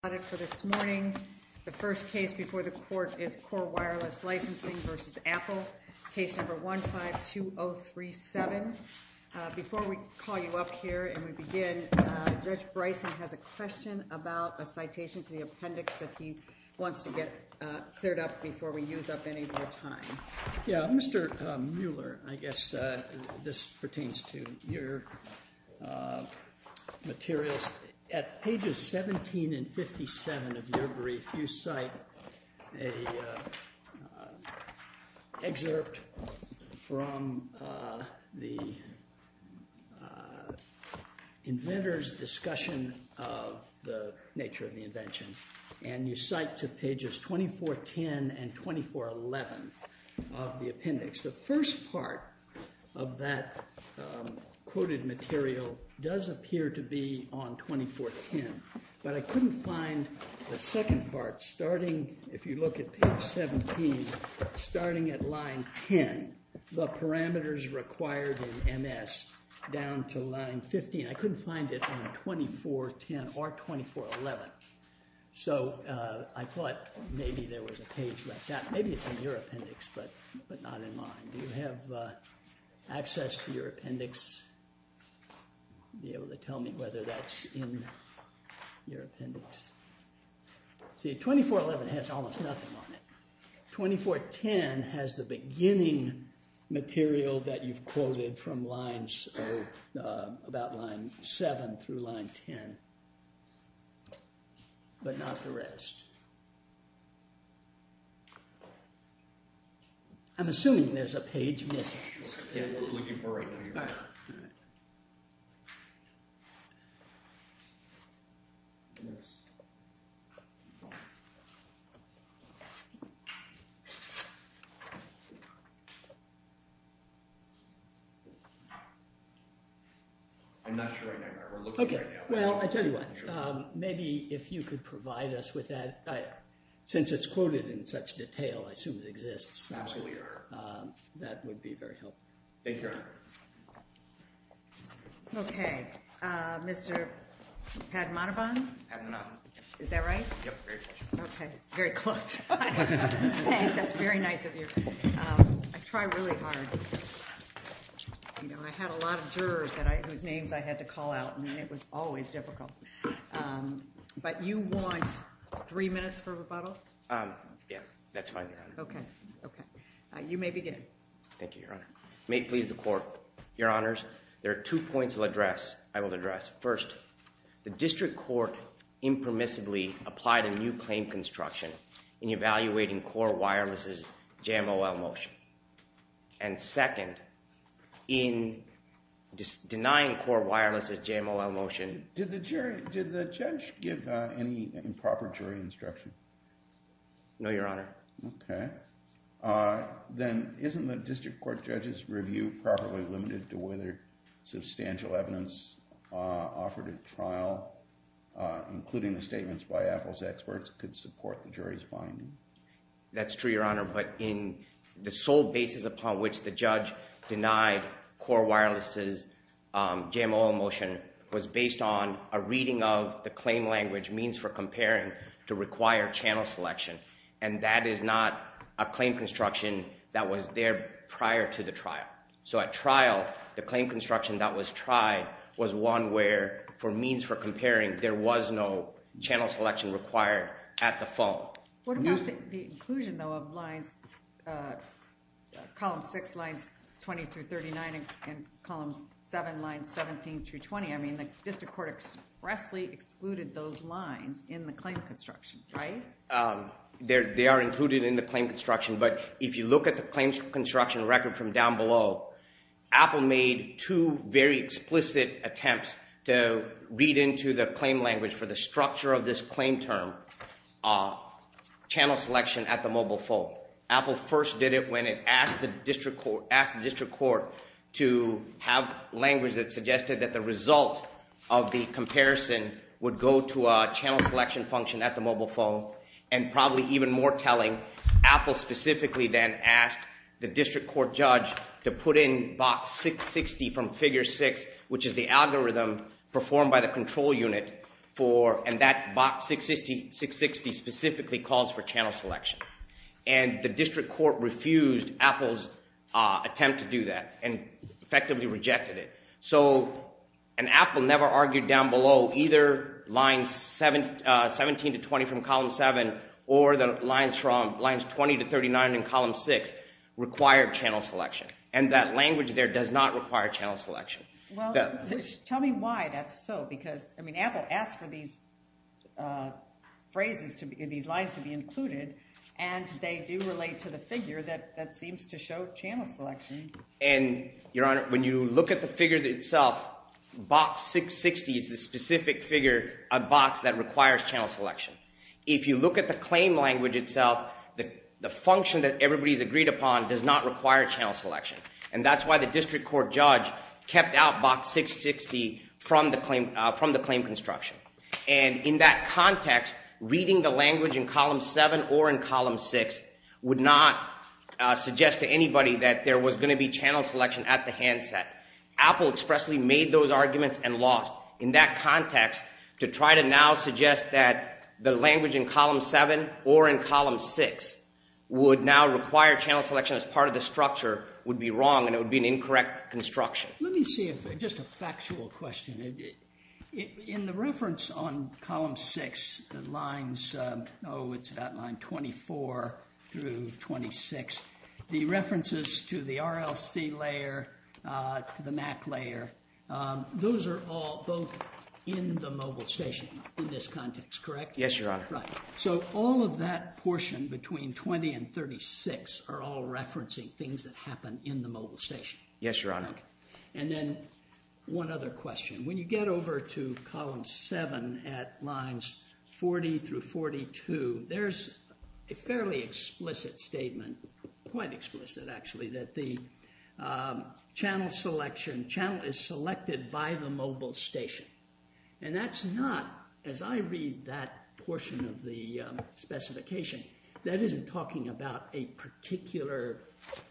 Before we call you up here and we begin, Judge Bryson has a question about a citation to the appendix that he wants to get cleared up before we use up any more time. Mr. Mueller, I guess this pertains to your materials. At pages 17 and 57 of your brief you cite an excerpt from the inventor's discussion of the nature of the invention and you cite to pages 2410 and 2411. The first part of that quoted material does appear to be on 2410, but I couldn't find the second part starting, if you look at page 17, starting at line 10, the parameters required in MS down to line 15. I couldn't find it on 2410 or 2411, so I thought maybe there was a page like that. Maybe it's in your appendix, but not in mine. Do you have access to your appendix to be able to tell me whether that's in your appendix? See, 2411 has almost nothing on it. 2410 has the beginning material that you've quoted from lines, about line 7 through line 10, but not the rest. I'm assuming there's a page missing. I'm not sure right now. We're looking right now. Well, I tell you what, maybe if you could provide us with that, since it's quoted in such detail, I assume it exists. That would be very helpful. Thank you. Okay. Mr. Padmanabhan? Padmanabhan. Is that right? Yep, very close. Okay, very close. That's very nice of you. I try really hard. I had a lot of jurors whose names I had to call out, and it was always difficult. But you want three minutes for rebuttal? Yeah, that's fine, Your Honor. Okay. You may begin. Thank you, Your Honor. May it please the Court. Your Honors, there are two points I will address. First, the district court impermissibly applied a new claim construction in evaluating Core Wireless's JMOL motion. And second, in denying Core Wireless's JMOL motion… Did the judge give any improper jury instruction? No, Your Honor. Okay. Then isn't the district court judge's review properly limited to whether substantial evidence offered at trial, including the statements by Apple's experts, could support the jury's finding? That's true, Your Honor. But in the sole basis upon which the judge denied Core Wireless's JMOL motion was based on a reading of the claim language means for comparing to require channel selection. And that is not a claim construction that was there prior to the trial. So at trial, the claim construction that was tried was one where, for means for comparing, there was no channel selection required at the phone. What about the inclusion, though, of columns 6, lines 20 through 39, and column 7, lines 17 through 20? I mean, the district court expressly excluded those lines in the claim construction, right? They are included in the claim construction, but if you look at the claim construction record from down below, Apple made two very explicit attempts to read into the claim language for the structure of this claim term, channel selection at the mobile phone. Apple first did it when it asked the district court to have language that suggested that the result of the comparison would go to a channel selection function at the mobile phone, and probably even more telling, Apple specifically then asked the district court judge to put in box 660 from figure 6, which is the algorithm performed by the control unit, and that box 660 specifically calls for channel selection. And the district court refused Apple's attempt to do that and effectively rejected it. So Apple never argued down below either lines 17 to 20 from column 7 or the lines from lines 20 to 39 in column 6 required channel selection, and that language there does not require channel selection. Well, tell me why that's so, because, I mean, Apple asked for these phrases, these lines to be included, and they do relate to the figure that seems to show channel selection. And, Your Honor, when you look at the figure itself, box 660 is the specific figure, a box that requires channel selection. If you look at the claim language itself, the function that everybody's agreed upon does not require channel selection, and that's why the district court judge kept out box 660 from the claim construction. And in that context, reading the language in column 7 or in column 6 would not suggest to anybody that there was going to be channel selection at the handset. Apple expressly made those arguments and lost in that context to try to now suggest that the language in column 7 or in column 6 would now require channel selection as part of the structure would be wrong and it would be an incorrect construction. Let me see if, just a factual question, in the reference on column 6, the lines, oh, it's about line 24 through 26, the references to the RLC layer, to the MAC layer, those are all both in the mobile station in this context, correct? Yes, Your Honor. Right. So all of that portion between 20 and 36 are all referencing things that happen in the mobile station. Yes, Your Honor. And then one other question. When you get over to column 7 at lines 40 through 42, there's a fairly explicit statement, quite explicit actually, that the channel selection, channel is selected by the mobile station. And that's not, as I read that portion of the specification, that isn't talking about a particular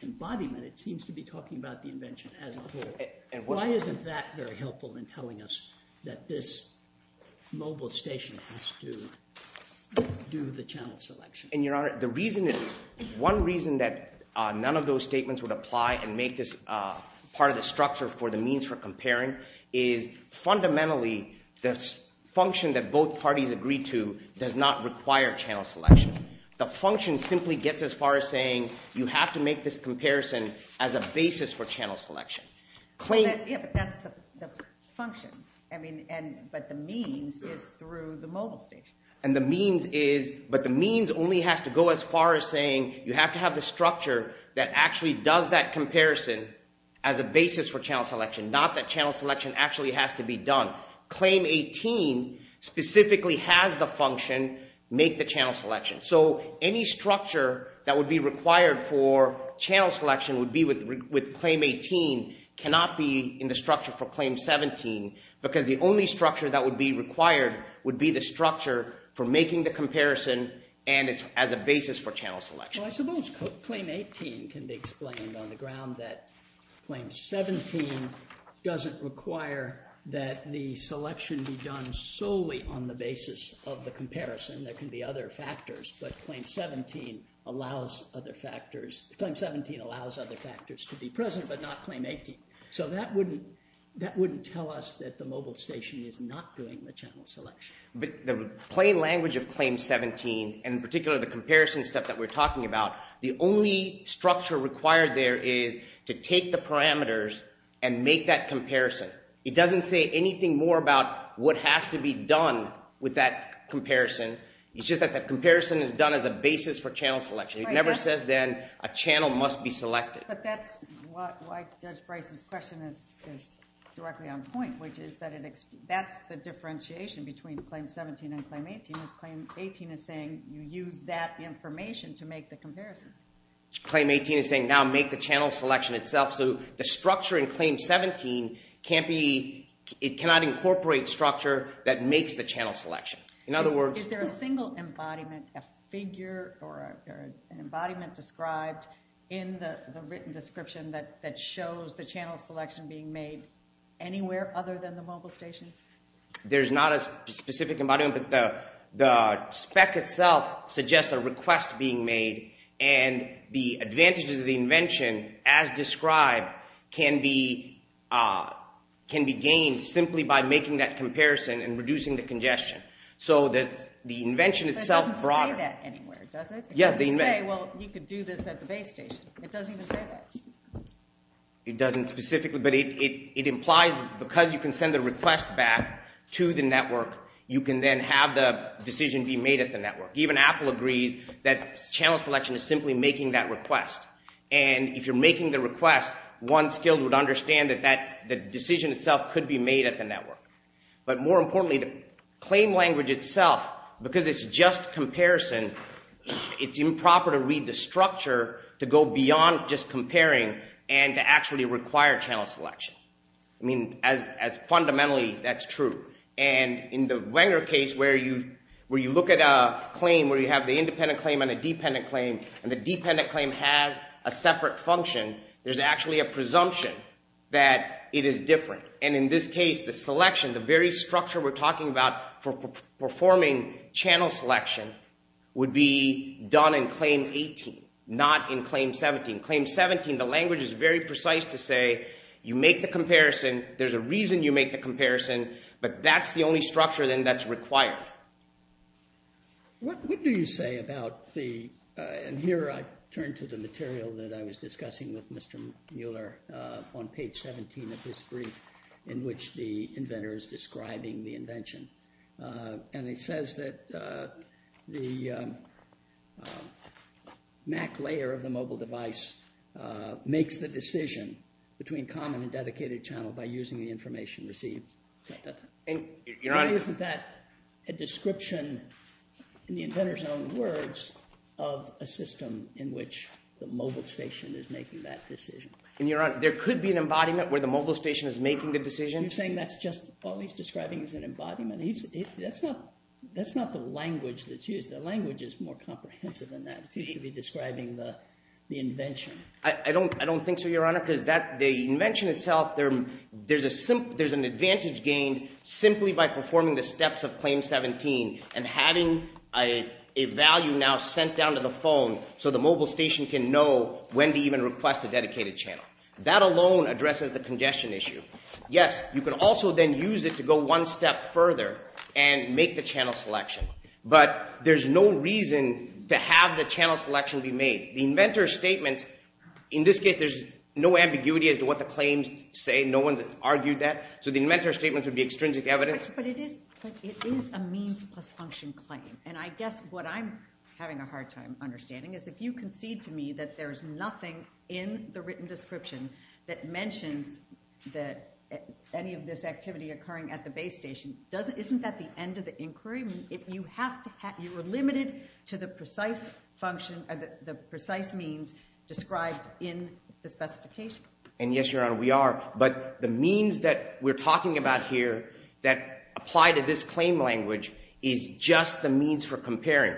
embodiment. It seems to be talking about the invention as a whole. And why isn't that very helpful in telling us that this mobile station has to do the channel selection? And Your Honor, the reason, one reason that none of those statements would apply and make this part of the structure for the means for comparing is fundamentally the function that both parties agreed to does not require channel selection. The function simply gets as far as saying you have to make this comparison as a basis for channel selection. Yeah, but that's the function. I mean, but the means is through the mobile station. And the means is, but the means only has to go as far as saying you have to have the structure that actually does that comparison as a basis for channel selection, not that channel selection actually has to be done. Claim 18 specifically has the function, make the channel selection. So any structure that would be required for channel selection would be with Claim 18 cannot be in the structure for Claim 17 because the only structure that would be required would be the structure for making the comparison and it's as a basis for channel selection. So I suppose Claim 18 can be explained on the ground that Claim 17 doesn't require that the selection be done solely on the basis of the comparison. There can be other factors, but Claim 17 allows other factors, Claim 17 allows other factors to be present but not Claim 18. So that wouldn't, that wouldn't tell us that the mobile station is not doing the channel selection. But the plain language of Claim 17 and in particular the comparison stuff that we're talking about, the only structure required there is to take the parameters and make that comparison. It doesn't say anything more about what has to be done with that comparison. It's just that that comparison is done as a basis for channel selection. It never says then a channel must be selected. But that's why Judge Bryce's question is directly on point, which is that it, that's the differentiation between Claim 17 and Claim 18 is Claim 18 is saying you use that information to make the comparison. Claim 18 is saying now make the channel selection itself. So the structure in Claim 17 can't be, it cannot incorporate structure that makes the channel selection. In other words... Is there a single embodiment, a figure or an embodiment described in the written description that shows the channel selection being made anywhere other than the mobile station? There's not a specific embodiment, but the spec itself suggests a request being made. And the advantages of the invention as described can be gained simply by making that comparison and reducing the congestion. So the invention itself... But it doesn't say that anywhere, does it? Yes, the invention... It doesn't say, well, you could do this at the base station. It doesn't even say that. It doesn't specifically, but it implies because you can send the request back to the network, you can then have the decision be made at the network. Even Apple agrees that channel selection is simply making that request. And if you're making the request, one skilled would understand that the decision itself could be made at the network. But more importantly, the claim language itself, because it's just comparison, it's improper to read the structure to go beyond just comparing and to actually require channel selection. I mean, fundamentally, that's true. And in the Wenger case, where you look at a claim, where you have the independent claim and a dependent claim, and the dependent claim has a separate function, there's actually a presumption that it is different. And in this case, the selection, the very structure we're talking about for performing channel selection would be done in Claim 18, not in Claim 17. In Claim 17, the language is very precise to say you make the comparison, there's a reason you make the comparison, but that's the only structure then that's required. What do you say about the – and here I turn to the material that I was discussing with Mr. Mueller on page 17 of his brief in which the inventor is describing the invention. And it says that the MAC layer of the mobile device makes the decision between common and dedicated channel by using the information received. Isn't that a description, in the inventor's own words, of a system in which the mobile station is making that decision? Your Honor, there could be an embodiment where the mobile station is making the decision. Are you saying that's just all he's describing is an embodiment? That's not the language that's used. The language is more comprehensive than that. It seems to be describing the invention. I don't think so, Your Honor, because the invention itself, there's an advantage gained simply by performing the steps of Claim 17 and having a value now sent down to the phone so the mobile station can know when to even request a dedicated channel. That alone addresses the congestion issue. Yes, you can also then use it to go one step further and make the channel selection. But there's no reason to have the channel selection be made. The inventor's statements – in this case, there's no ambiguity as to what the claims say. No one's argued that. So the inventor's statements would be extrinsic evidence. But it is a means plus function claim. And I guess what I'm having a hard time understanding is if you concede to me that there's nothing in the written description that mentions any of this activity occurring at the base station, isn't that the end of the inquiry? You were limited to the precise function – the precise means described in the specification. And yes, Your Honor, we are. But the means that we're talking about here that apply to this claim language is just the means for comparing.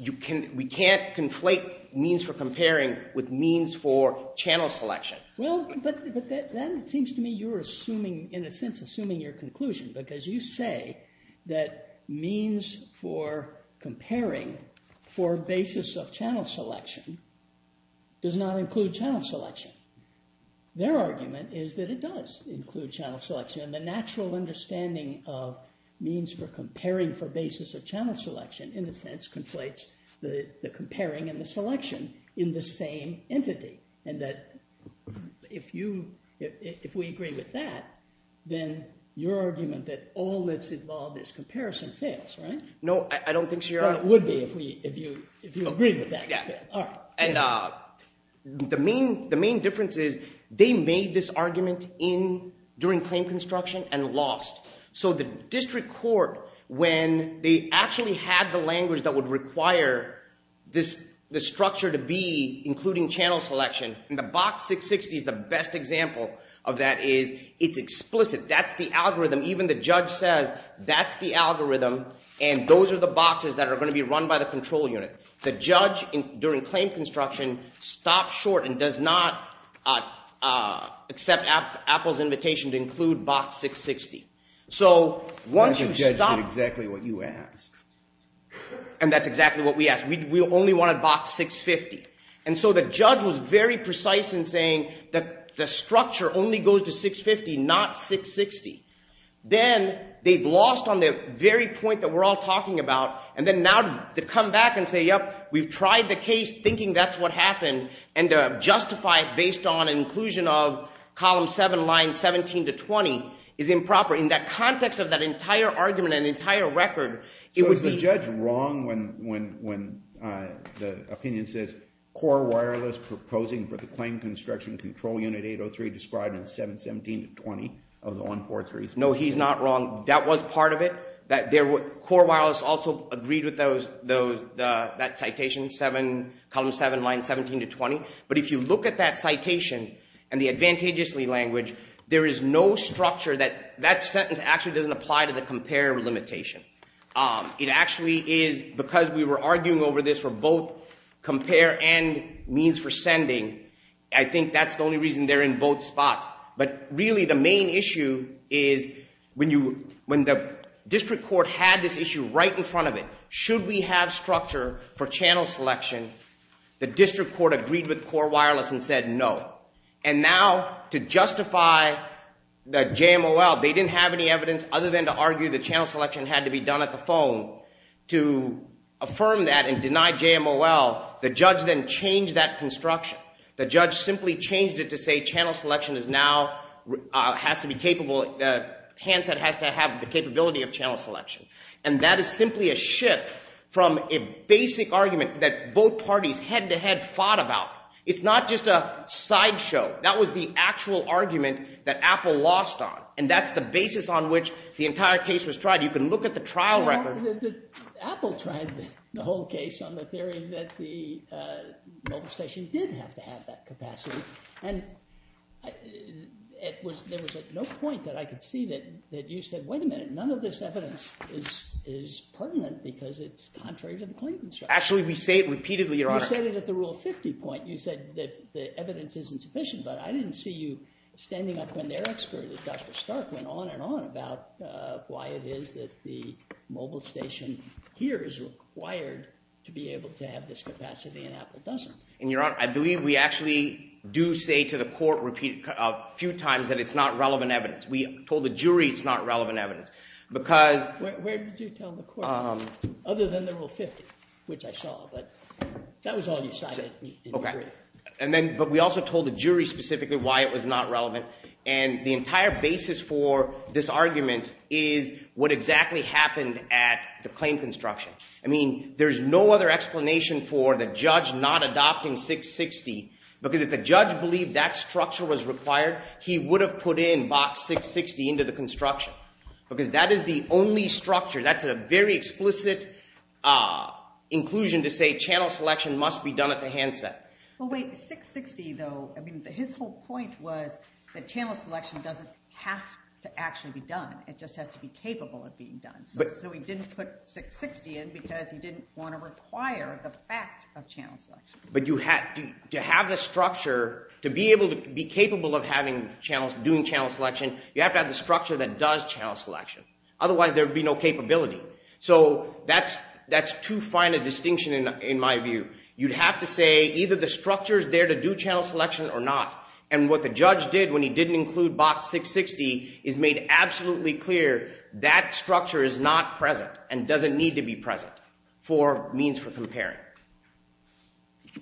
We can't conflate means for comparing with means for channel selection. Well, but then it seems to me you're assuming – in a sense, assuming your conclusion because you say that means for comparing for basis of channel selection does not include channel selection. Their argument is that it does include channel selection. And the natural understanding of means for comparing for basis of channel selection in a sense conflates the comparing and the selection in the same entity. And that if you – if we agree with that, then your argument that all that's involved is comparison fails, right? No, I don't think so, Your Honor. Well, it would be if you agreed with that. And the main difference is they made this argument in – during claim construction and lost. So the district court, when they actually had the language that would require this structure to be including channel selection, and the box 660 is the best example of that is it's explicit. That's the algorithm. Even the judge says that's the algorithm, and those are the boxes that are going to be run by the control unit. The judge during claim construction stopped short and does not accept Apple's invitation to include box 660. So once you stop – The judge did exactly what you asked. And that's exactly what we asked. We only wanted box 650. And so the judge was very precise in saying that the structure only goes to 650, not 660. Then they've lost on the very point that we're all talking about. And then now to come back and say, yep, we've tried the case thinking that's what happened, and to justify it based on inclusion of column 7, line 17 to 20 is improper. In that context of that entire argument and entire record, it would be – No, he's not wrong when the opinion says core wireless proposing for the claim construction control unit 803 described in 717 to 20 of the 143s. No, he's not wrong. That was part of it. Core wireless also agreed with that citation, column 7, line 17 to 20. But if you look at that citation and the advantageously language, there is no structure that – that sentence actually doesn't apply to the compare limitation. It actually is because we were arguing over this for both compare and means for sending. I think that's the only reason they're in both spots. But really the main issue is when you – when the district court had this issue right in front of it, should we have structure for channel selection, the district court agreed with core wireless and said no. And now to justify the JMOL, they didn't have any evidence other than to argue that channel selection had to be done at the phone. To affirm that and deny JMOL, the judge then changed that construction. The judge simply changed it to say channel selection is now – has to be capable – handset has to have the capability of channel selection. And that is simply a shift from a basic argument that both parties head-to-head fought about. It's not just a sideshow. That was the actual argument that Apple lost on. And that's the basis on which the entire case was tried. You can look at the trial record. So Apple tried the whole case on the theory that the mobile station did have to have that capacity. And it was – there was no point that I could see that you said, wait a minute, none of this evidence is pertinent because it's contrary to the Clingman show. Actually, we say it repeatedly, Your Honor. You said it at the Rule 50 point. You said that the evidence isn't sufficient, but I didn't see you standing up when their expert, Dr. Stark, went on and on about why it is that the mobile station here is required to be able to have this capacity and Apple doesn't. And, Your Honor, I believe we actually do say to the court a few times that it's not relevant evidence. We told the jury it's not relevant evidence because – Where did you tell the court? Other than the Rule 50, which I saw. But that was all you cited. Okay. And then – but we also told the jury specifically why it was not relevant. And the entire basis for this argument is what exactly happened at the claim construction. I mean, there's no other explanation for the judge not adopting 660 because if the judge believed that structure was required, he would have put in box 660 into the construction. Because that is the only structure. That's a very explicit inclusion to say channel selection must be done at the handset. Well, wait. 660, though, I mean, his whole point was that channel selection doesn't have to actually be done. It just has to be capable of being done. So he didn't put 660 in because he didn't want to require the fact of channel selection. But to have the structure, to be able to be capable of doing channel selection, you have to have the structure that does channel selection. Otherwise, there would be no capability. So that's too fine a distinction in my view. You'd have to say either the structure is there to do channel selection or not. And what the judge did when he didn't include box 660 is made absolutely clear. That structure is not present and doesn't need to be present for means for comparing. Thank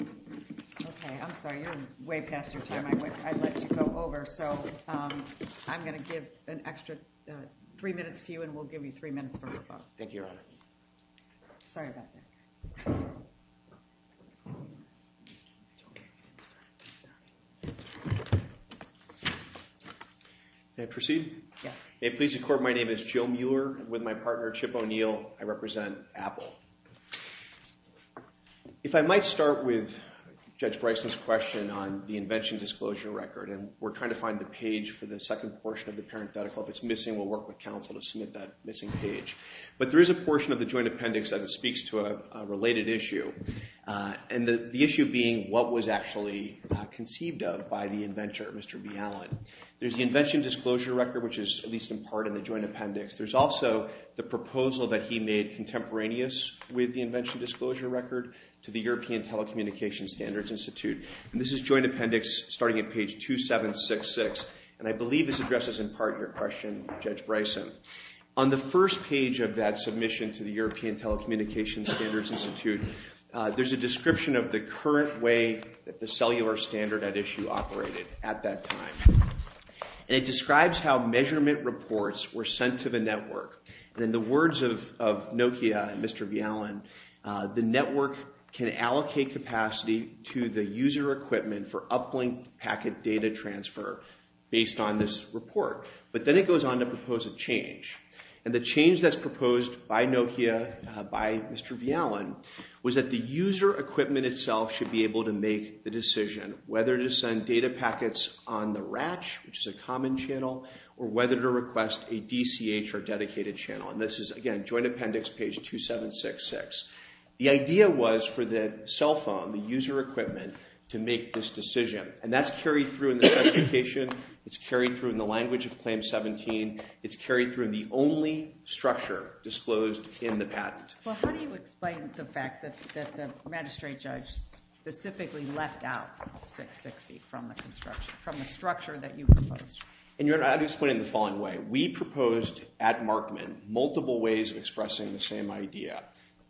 you, Your Honor. Okay. I'm sorry. You're way past your time. I'd let you go over. So I'm going to give an extra three minutes to you, and we'll give you three minutes for your vote. Thank you, Your Honor. Sorry about that. May I proceed? Yes. May it please the Court, my name is Joe Mueller. With my partner, Chip O'Neill, I represent Apple. If I might start with Judge Bryson's question on the invention disclosure record. And we're trying to find the page for the second portion of the parenthetical. If it's missing, we'll work with counsel to submit that missing page. But there is a portion of the joint appendix that speaks to a related issue. And the issue being what was actually conceived of by the inventor, Mr. Bialin. There's the invention disclosure record, which is at least in part in the joint appendix. There's also the proposal that he made contemporaneous with the invention disclosure record to the European Telecommunications Standards Institute. And this is joint appendix starting at page 2766. And I believe this addresses in part your question, Judge Bryson. On the first page of that submission to the European Telecommunications Standards Institute, there's a description of the current way that the cellular standard at issue operated at that time. And it describes how measurement reports were sent to the network. And in the words of Nokia and Mr. Bialin, the network can allocate capacity to the user equipment for uplink packet data transfer based on this report. But then it goes on to propose a change. And the change that's proposed by Nokia, by Mr. Bialin, was that the user equipment itself should be able to make the decision whether to send data packets on the RACH, which is a common channel, or whether to request a DCH or dedicated channel. And this is, again, joint appendix page 2766. The idea was for the cell phone, the user equipment, to make this decision. And that's carried through in the specification. It's carried through in the language of Claim 17. It's carried through in the only structure disclosed in the patent. Well, how do you explain the fact that the magistrate judge specifically left out 660 from the construction, from the structure that you proposed? And I'll explain it in the following way. We proposed at Markman multiple ways of expressing the same idea.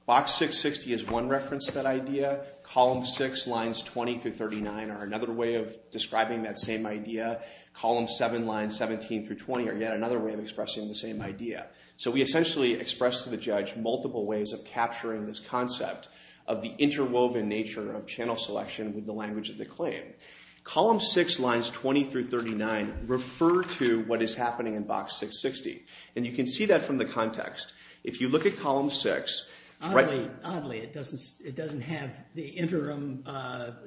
Box 660 is one reference to that idea. Column 6, lines 20 through 39, are another way of describing that same idea. Column 7, lines 17 through 20, are yet another way of expressing the same idea. So we essentially expressed to the judge multiple ways of capturing this concept of the interwoven nature of channel selection with the language of the claim. Column 6, lines 20 through 39, refer to what is happening in Box 660. And you can see that from the context. If you look at column 6. Oddly, it doesn't have the interim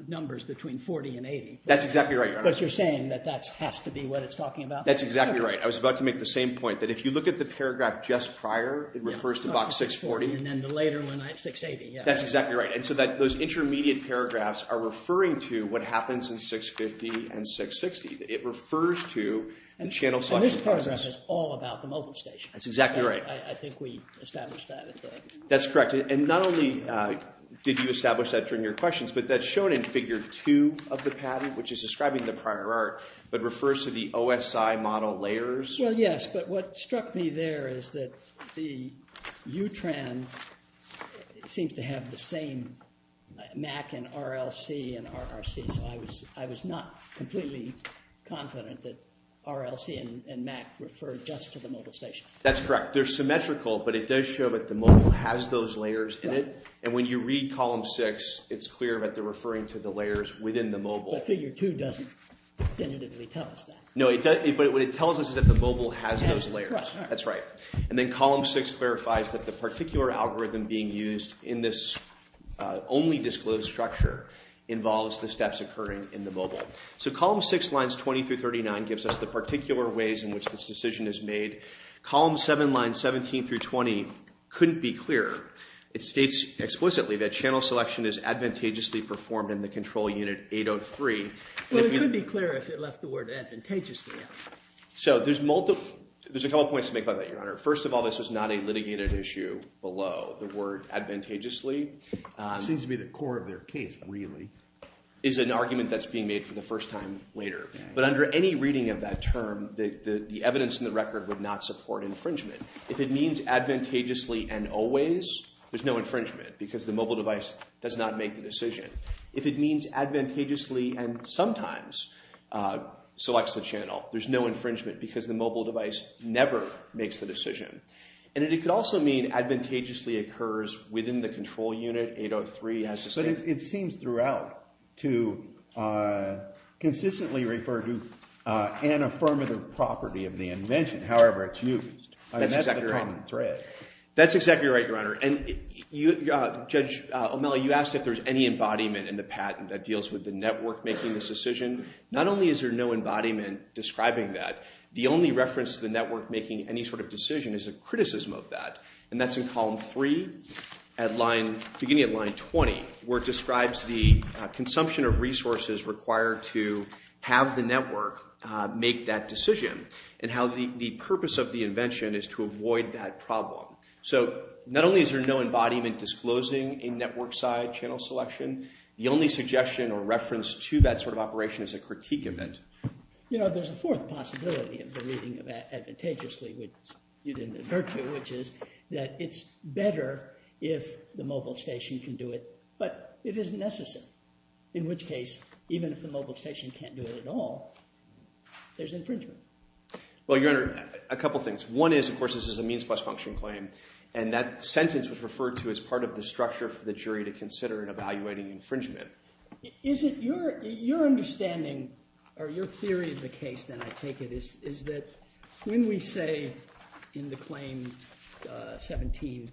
numbers between 40 and 80. That's exactly right, Your Honor. But you're saying that that has to be what it's talking about? That's exactly right. I was about to make the same point, that if you look at the paragraph just prior, it refers to Box 640. And then the later one, 680. That's exactly right. And so those intermediate paragraphs are referring to what happens in 650 and 660. It refers to the channel selection process. And this paragraph is all about the mobile station. That's exactly right. I think we established that. That's correct. And not only did you establish that during your questions, but that's shown in Figure 2 of the patent, which is describing the prior art, but refers to the OSI model layers. Well, yes. But what struck me there is that the UTRAN seems to have the same MAC and RLC and RRC. So I was not completely confident that RLC and MAC referred just to the mobile station. That's correct. They're symmetrical, but it does show that the mobile has those layers in it. And when you read Column 6, it's clear that they're referring to the layers within the mobile. But Figure 2 doesn't definitively tell us that. No, but what it tells us is that the mobile has those layers. That's correct. That's right. And then Column 6 clarifies that the particular algorithm being used in this only disclosed structure involves the steps occurring in the mobile. So Column 6, Lines 20 through 39 gives us the particular ways in which this decision is made. Column 7, Lines 17 through 20 couldn't be clearer. It states explicitly that channel selection is advantageously performed in the control unit 803. Well, it could be clearer if it left the word advantageously out. So there's a couple points to make about that, Your Honor. First of all, this was not a litigated issue below the word advantageously. It seems to be the core of their case, really. It's an argument that's being made for the first time later. But under any reading of that term, the evidence in the record would not support infringement. If it means advantageously and always, there's no infringement because the mobile device does not make the decision. If it means advantageously and sometimes selects the channel, there's no infringement because the mobile device never makes the decision. And it could also mean advantageously occurs within the control unit 803. But it seems throughout to consistently refer to an affirmative property of the invention, however it's used. And that's the common thread. That's exactly right, Your Honor. And Judge O'Malley, you asked if there's any embodiment in the patent that deals with the network making this decision. Not only is there no embodiment describing that, the only reference to the network making any sort of decision is a criticism of that. And that's in column three, beginning at line 20, where it describes the consumption of resources required to have the network make that decision and how the purpose of the invention is to avoid that problem. So not only is there no embodiment disclosing a network side channel selection, the only suggestion or reference to that sort of operation is a critique of it. You know, there's a fourth possibility of the reading of advantageously, which you didn't refer to, which is that it's better if the mobile station can do it, but it isn't necessary. In which case, even if the mobile station can't do it at all, there's infringement. Well, Your Honor, a couple things. One is, of course, this is a means plus function claim, and that sentence was referred to as part of the structure for the jury to consider in evaluating infringement. Your understanding or your theory of the case, then, I take it, is that when we say in the claim 17,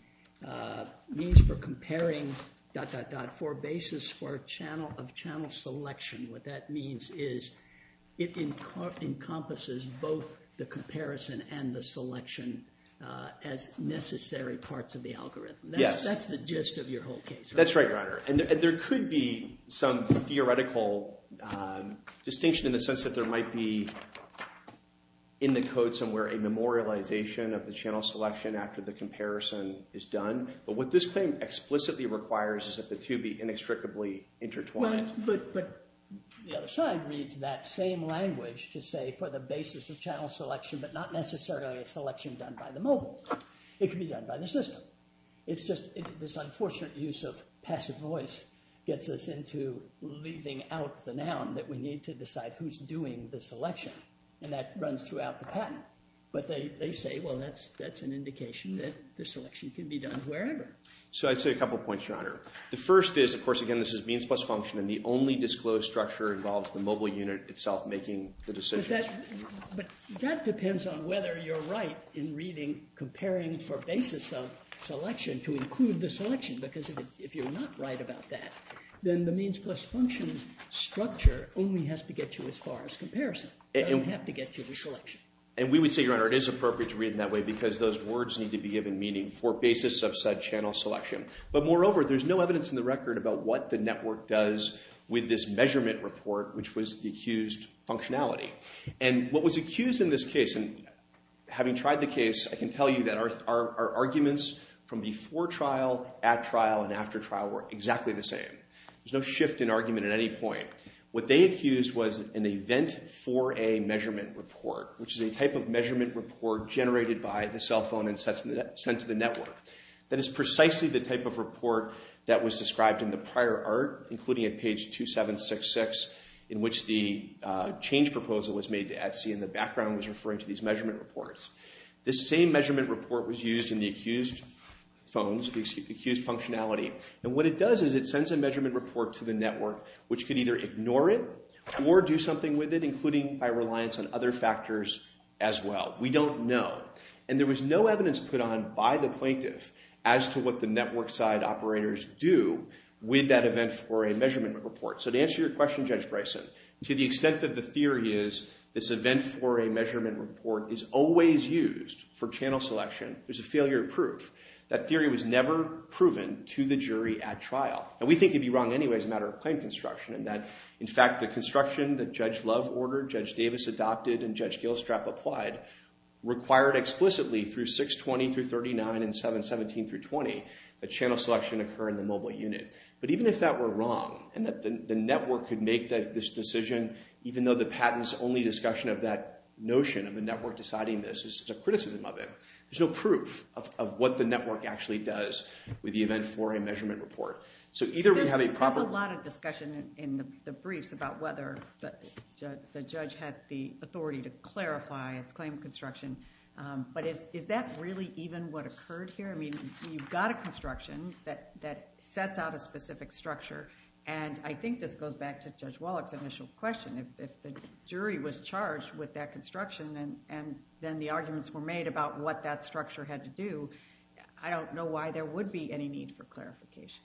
means for comparing dot, dot, dot, for basis of channel selection, what that means is it encompasses both the comparison and the selection as necessary parts of the algorithm. Yes. That's the gist of your whole case, right? That's right, Your Honor. And there could be some theoretical distinction in the sense that there might be in the code somewhere a memorialization of the channel selection after the comparison is done. But what this claim explicitly requires is that the two be inextricably intertwined. But the other side reads that same language to say for the basis of channel selection, but not necessarily a selection done by the mobile. It can be done by the system. It's just this unfortunate use of passive voice gets us into leaving out the noun that we need to decide who's doing the selection. And that runs throughout the patent. But they say, well, that's an indication that the selection can be done wherever. So I'd say a couple points, Your Honor. The first is, of course, again, this is means plus function, and the only disclosed structure involves the mobile unit itself making the decision. But that depends on whether you're right in reading comparing for basis of selection to include the selection. Because if you're not right about that, then the means plus function structure only has to get you as far as comparison. It doesn't have to get you the selection. And we would say, Your Honor, it is appropriate to read it that way because those words need to be given meaning for basis of said channel selection. But moreover, there's no evidence in the record about what the network does with this measurement report, which was the accused functionality. And what was accused in this case, and having tried the case, I can tell you that our arguments from before trial, at trial, and after trial were exactly the same. There's no shift in argument at any point. What they accused was an event for a measurement report, which is a type of measurement report generated by the cell phone and sent to the network. That is precisely the type of report that was described in the prior art, including at page 2766, in which the change proposal was made to Etsy and the background was referring to these measurement reports. This same measurement report was used in the accused functionality. And what it does is it sends a measurement report to the network, which could either ignore it or do something with it, including by reliance on other factors as well. We don't know. And there was no evidence put on by the plaintiff as to what the network side operators do with that event for a measurement report. So to answer your question, Judge Bryson, to the extent that the theory is this event for a measurement report is always used for channel selection, there's a failure of proof. That theory was never proven to the jury at trial. And we think you'd be wrong anyway as a matter of claim construction in that, in fact, the construction that Judge Love ordered, Judge Davis adopted, and Judge Gilstrap applied, required explicitly through 620 through 39 and 717 through 20 that channel selection occur in the mobile unit. But even if that were wrong, and that the network could make this decision even though the patent's only discussion of that notion of the network deciding this is a criticism of it, there's no proof of what the network actually does with the event for a measurement report. So either we have a proper... There's a lot of discussion in the briefs about whether the judge had the authority to clarify its claim construction. But is that really even what occurred here? I mean, you've got a construction that sets out a specific structure, and I think this goes back to Judge Wallach's initial question. If the jury was charged with that construction and then the arguments were made about what that structure had to do, I don't know why there would be any need for clarification.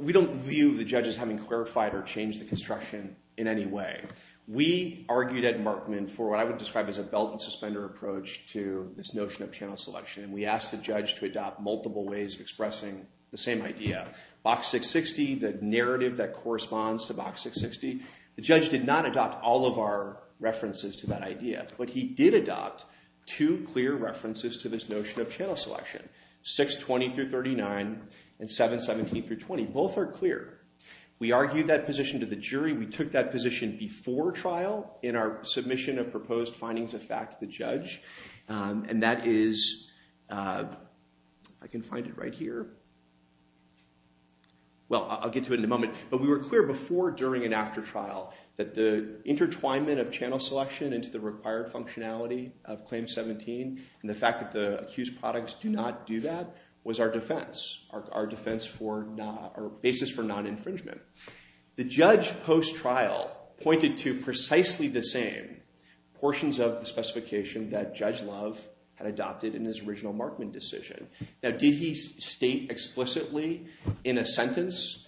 We don't view the judges having clarified or changed the construction in any way. We argued at Markman for what I would describe as a belt-and-suspender approach to this notion of channel selection, and we asked the judge to adopt multiple ways of expressing the same idea. Box 660, the narrative that corresponds to Box 660, the judge did not adopt all of our references to that idea, but he did adopt two clear references to this notion of channel selection, 620-39 and 717-20. Both are clear. We argued that position to the jury. We took that position before trial in our submission of proposed findings of fact to the judge, and that is... I can find it right here. Well, I'll get to it in a moment. But we were clear before, during, and after trial that the intertwinement of channel selection into the required functionality of Claim 17 and the fact that the accused products do not do that was our defense, our basis for non-infringement. The judge, post-trial, pointed to precisely the same portions of the specification that Judge Love had adopted in his original Markman decision. Now, did he state explicitly in a sentence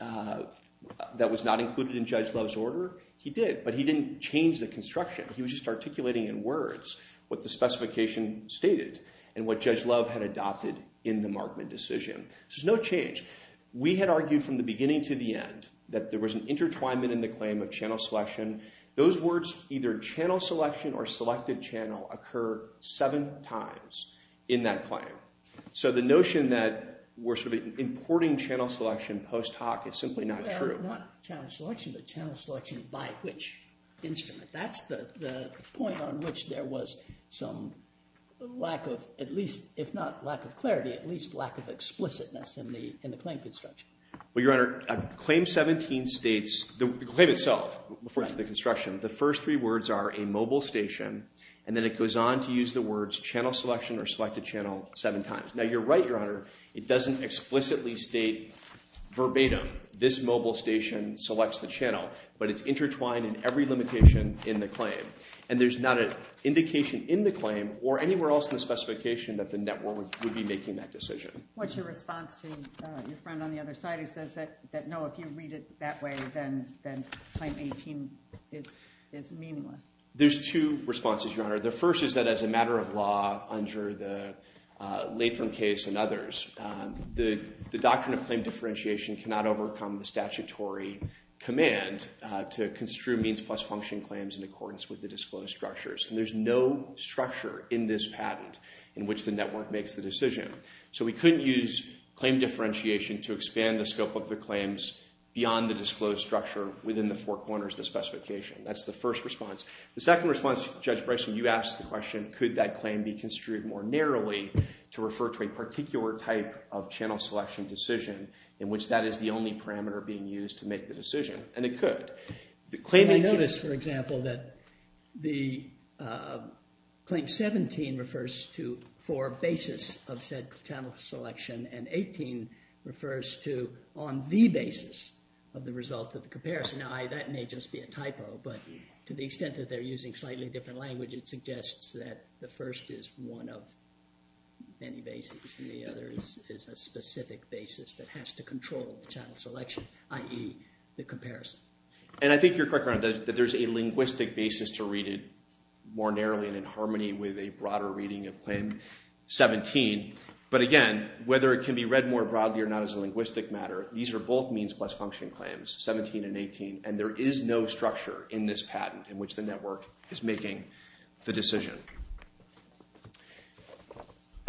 that was not included in Judge Love's order? He did, but he didn't change the construction. He was just articulating in words what the specification stated and what Judge Love had adopted in the Markman decision. There's no change. We had argued from the beginning to the end that there was an intertwinement in the claim of channel selection. Those words, either channel selection or selected channel, occur seven times in that claim. So the notion that we're sort of importing channel selection post-hoc is simply not true. Not channel selection, but channel selection by which instrument? That's the point on which there was some lack of, at least if not lack of clarity, at least lack of explicitness in the claim construction. Well, Your Honor, Claim 17 states, the claim itself refers to the construction. The first three words are a mobile station, and then it goes on to use the words channel selection or selected channel seven times. Now, you're right, Your Honor. It doesn't explicitly state verbatim that this mobile station selects the channel, but it's intertwined in every limitation in the claim. And there's not an indication in the claim or anywhere else in the specification that the network would be making that decision. What's your response to your friend on the other side who says that, no, if you read it that way, then Claim 18 is meaningless? There's two responses, Your Honor. The first is that as a matter of law under the Latham case and others, the doctrine of claim differentiation cannot overcome the statutory command to construe means plus function claims in accordance with the disclosed structures. And there's no structure in this patent in which the network makes the decision. So we couldn't use claim differentiation to expand the scope of the claims beyond the disclosed structure within the four corners of the specification. That's the first response. The second response, Judge Bryson, you asked the question, could that claim be construed more narrowly to refer to a particular type of channel selection decision in which that is the only parameter being used to make the decision? And it could. Can I notice, for example, that the Claim 17 refers to four basis of said channel selection and 18 refers to on the basis of the result of the comparison. Now, that may just be a typo, but to the extent that they're using slightly different language, it suggests that the first is one of many basis and the other is a specific basis that has to control the channel selection, i.e. the comparison. And I think you're correct, Your Honor, that there's a linguistic basis to read it more narrowly and in harmony with a broader reading of Claim 17. But again, whether it can be read more broadly or not is a linguistic matter. These are both means plus function claims, 17 and 18, and there is no structure in this patent in which the network is making the decision.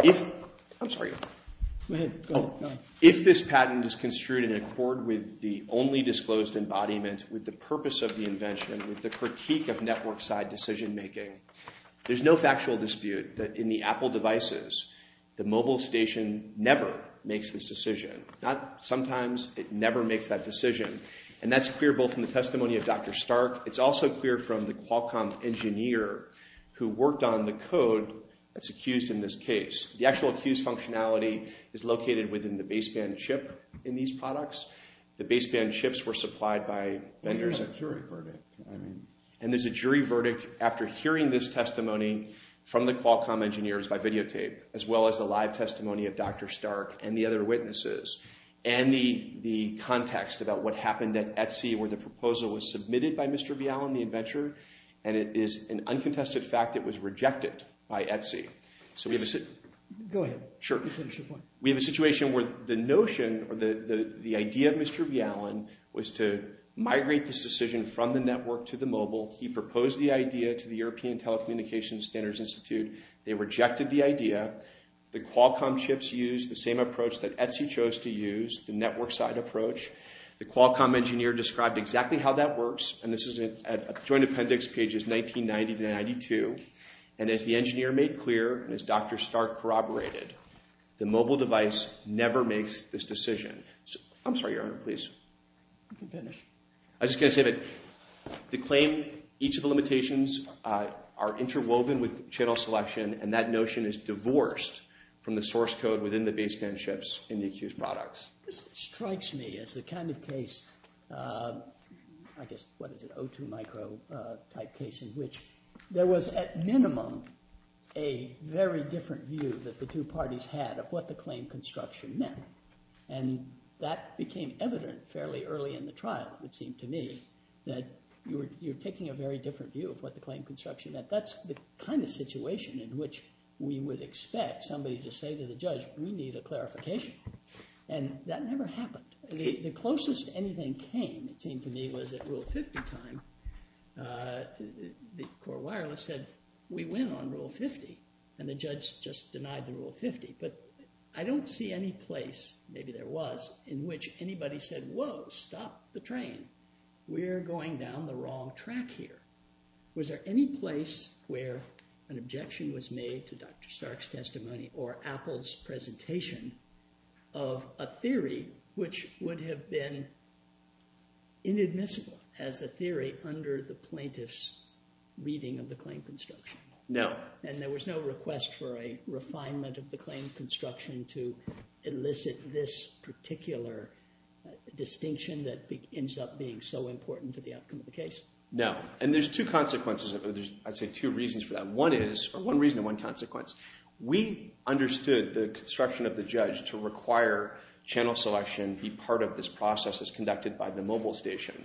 If this patent is construed in accord with the only disclosed embodiment, with the purpose of the invention, with the critique of network side decision making, there's no factual dispute that in the Apple devices, the mobile station never makes this decision. Sometimes it never makes that decision, and that's clear both in the testimony of Dr. Stark. It's also clear from the Qualcomm engineer who worked on the code that's accused in this case. The actual accused functionality is located within the baseband chip in these products. The baseband chips were supplied by vendors at Jury Verdict. And there's a Jury Verdict after hearing this testimony from the Qualcomm engineers by videotape, as well as the live testimony of Dr. Stark and the other witnesses. And the context about what happened at Etsy where the proposal was submitted by Mr. Vialan, the inventor, and it is an uncontested fact that it was rejected by Etsy. Go ahead. Sure. Finish your point. We have a situation where the notion or the idea of Mr. Vialan was to migrate this decision from the network to the mobile. He proposed the idea to the European Telecommunications Standards Institute. They rejected the idea. The Qualcomm chips used the same approach that Etsy chose to use, the network side approach. The Qualcomm engineer described exactly how that works. And this is at joint appendix pages 1990 to 1992. And as the engineer made clear, and as Dr. Stark corroborated, the mobile device never makes this decision. I'm sorry, Your Honor, please. You can finish. I was just going to say that the claim, each of the limitations are interwoven with channel selection. And that notion is divorced from the source code within the baseband chips in the accused products. This strikes me as the kind of case, I guess, what is it? O2 micro type case in which there was, at minimum, a very different view that the two parties had of what the claim construction meant. And that became evident fairly early in the trial, it seemed to me, that you're taking a very different view of what the claim construction meant. That's the kind of situation in which we would expect somebody to say to the judge, we need a clarification. And that never happened. The closest anything came, it seemed to me, was at Rule 50 time. The core wireless said, we win on Rule 50. And the judge just denied the Rule 50. But I don't see any place, maybe there was, in which anybody said, whoa, stop the train. We're going down the wrong track here. Was there any place where an objection was made to Dr. Stark's testimony or Apple's presentation of a theory which would have been inadmissible as a theory under the plaintiff's reading of the claim construction? No. And there was no request for a refinement of the claim construction to elicit this particular distinction that ends up being so important to the outcome of the case? No. And there's two consequences. There's, I'd say, two reasons for that. One reason and one consequence. We understood the construction of the judge to require channel selection be part of this process as conducted by the mobile station.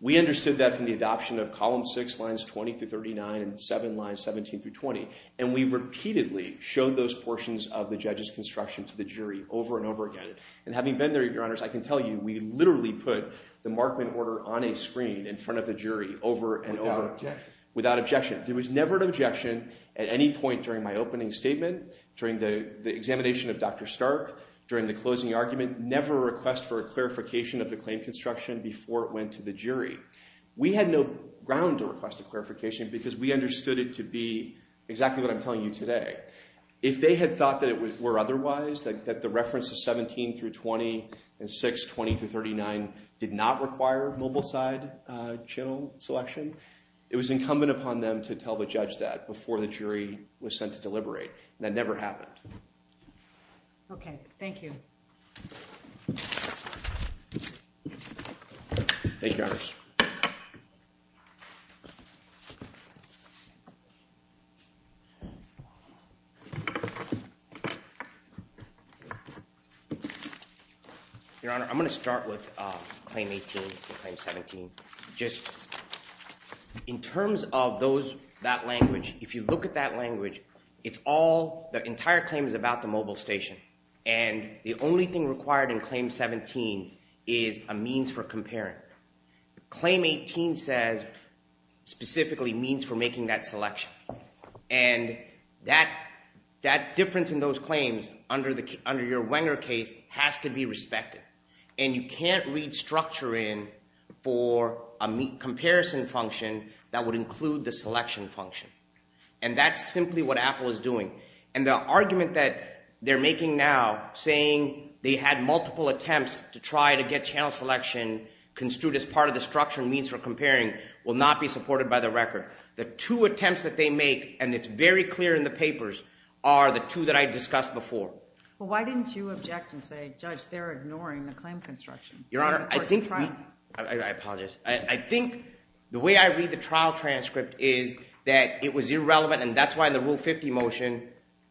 We understood that from the adoption of Column 6, Lines 20 through 39, and 7, Lines 17 through 20. And we repeatedly showed those portions of the judge's construction to the jury over and over again. And having been there, Your Honors, I can tell you, we literally put the Markman order on a screen in front of the jury over and over. Without objection? Without objection. There was never an objection at any point during my opening statement, during the examination of Dr. Stark, during the closing argument. Never a request for a clarification of the claim construction before it went to the jury. We had no ground to request a clarification because we understood it to be exactly what I'm telling you today. If they had thought that it were otherwise, that the reference of 17 through 20 and 6, 20 through 39, did not require mobile side channel selection, it was incumbent upon them to tell the judge that before the jury was sent to deliberate. That never happened. OK. Thank you. Thank you, Your Honors. Your Honor, I'm going to start with Claim 18 and Claim 17. Just in terms of that language, if you look at that language, the entire claim is about the mobile station. And the only thing required in Claim 17 is a means for comparing. Claim 18 says, specifically, means for making that selection. And that difference in those claims under your Wenger case has to be respected. And you can't read structure in for a comparison function that would include the selection function. And that's simply what Apple is doing. And the argument that they're making now, saying they had multiple attempts to try to get channel selection construed as part of the structure and means for comparing, will not be supported by the record. The two attempts that they make, and it's very clear in the papers, are the two that I discussed before. Well, why didn't you object and say, Judge, they're ignoring the claim construction? Your Honor, I apologize. I think the way I read the trial transcript is that it was irrelevant. And that's why the Rule 50 motion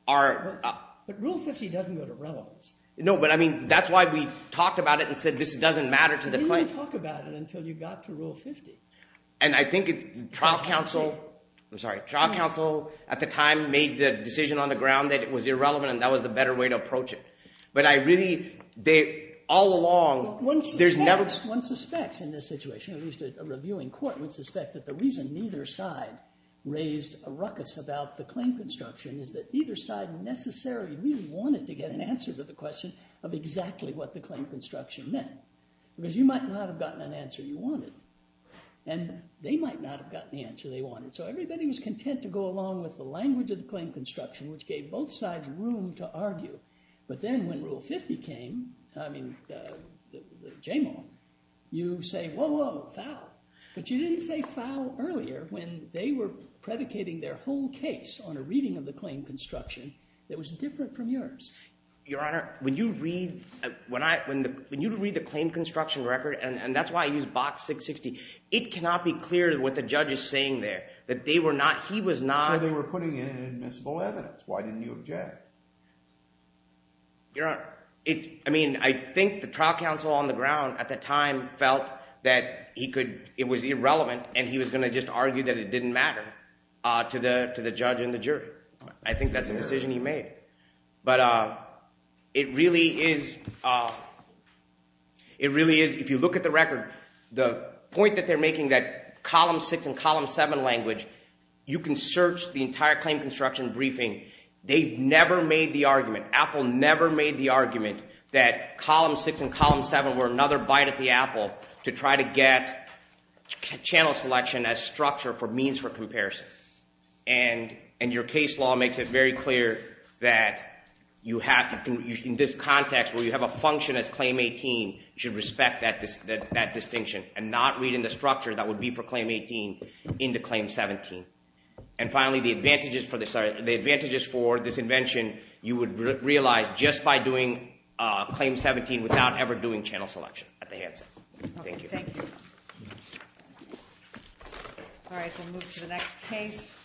are up. But Rule 50 doesn't go to relevance. No, but I mean, that's why we talked about it and said this doesn't matter to the claim. You didn't talk about it until you got to Rule 50. And I think the trial counsel at the time made the decision on the ground that it was irrelevant. And that was the better way to approach it. But I really, all along, there's never One suspects in this situation, at least a reviewing court would suspect that the reason neither side raised a ruckus about the claim construction is that either side necessarily really wanted to get an answer to the question of exactly what the claim construction meant. Because you might not have gotten an answer you wanted. And they might not have gotten the answer they wanted. So everybody was content to go along with the language of the claim construction, which gave both sides room to argue. But then when Rule 50 came, I mean, the Jamal, you say, whoa, whoa, foul. But you didn't say foul earlier when they were predicating their whole case on a reading of the claim construction that was different from yours. Your Honor, when you read the claim construction record, and that's why I use Box 660, it cannot be clear what the judge is saying there, that they were not, he was not. So they were putting in admissible evidence. Why didn't you object? Your Honor, I mean, I think the trial counsel on the ground at the time felt that it was irrelevant. And he was going to just argue that it didn't matter to the judge and the jury. I think that's a decision he made. But it really is, if you look at the record, the point that they're making that column 6 and column 7 language, you can search the entire claim construction briefing. They've never made the argument. Apple never made the argument that column 6 and column 7 were another bite at the apple to try to get channel selection as structure for means for comparison. And your case law makes it very clear that in this context where you have a function as claim 18, you should respect that distinction and not read in the structure that would be for claim 18 into claim 17. And finally, the advantages for this invention, you would realize just by doing claim 17 without ever doing channel selection at the handset. Thank you. Thank you. All right, we'll move to the next case.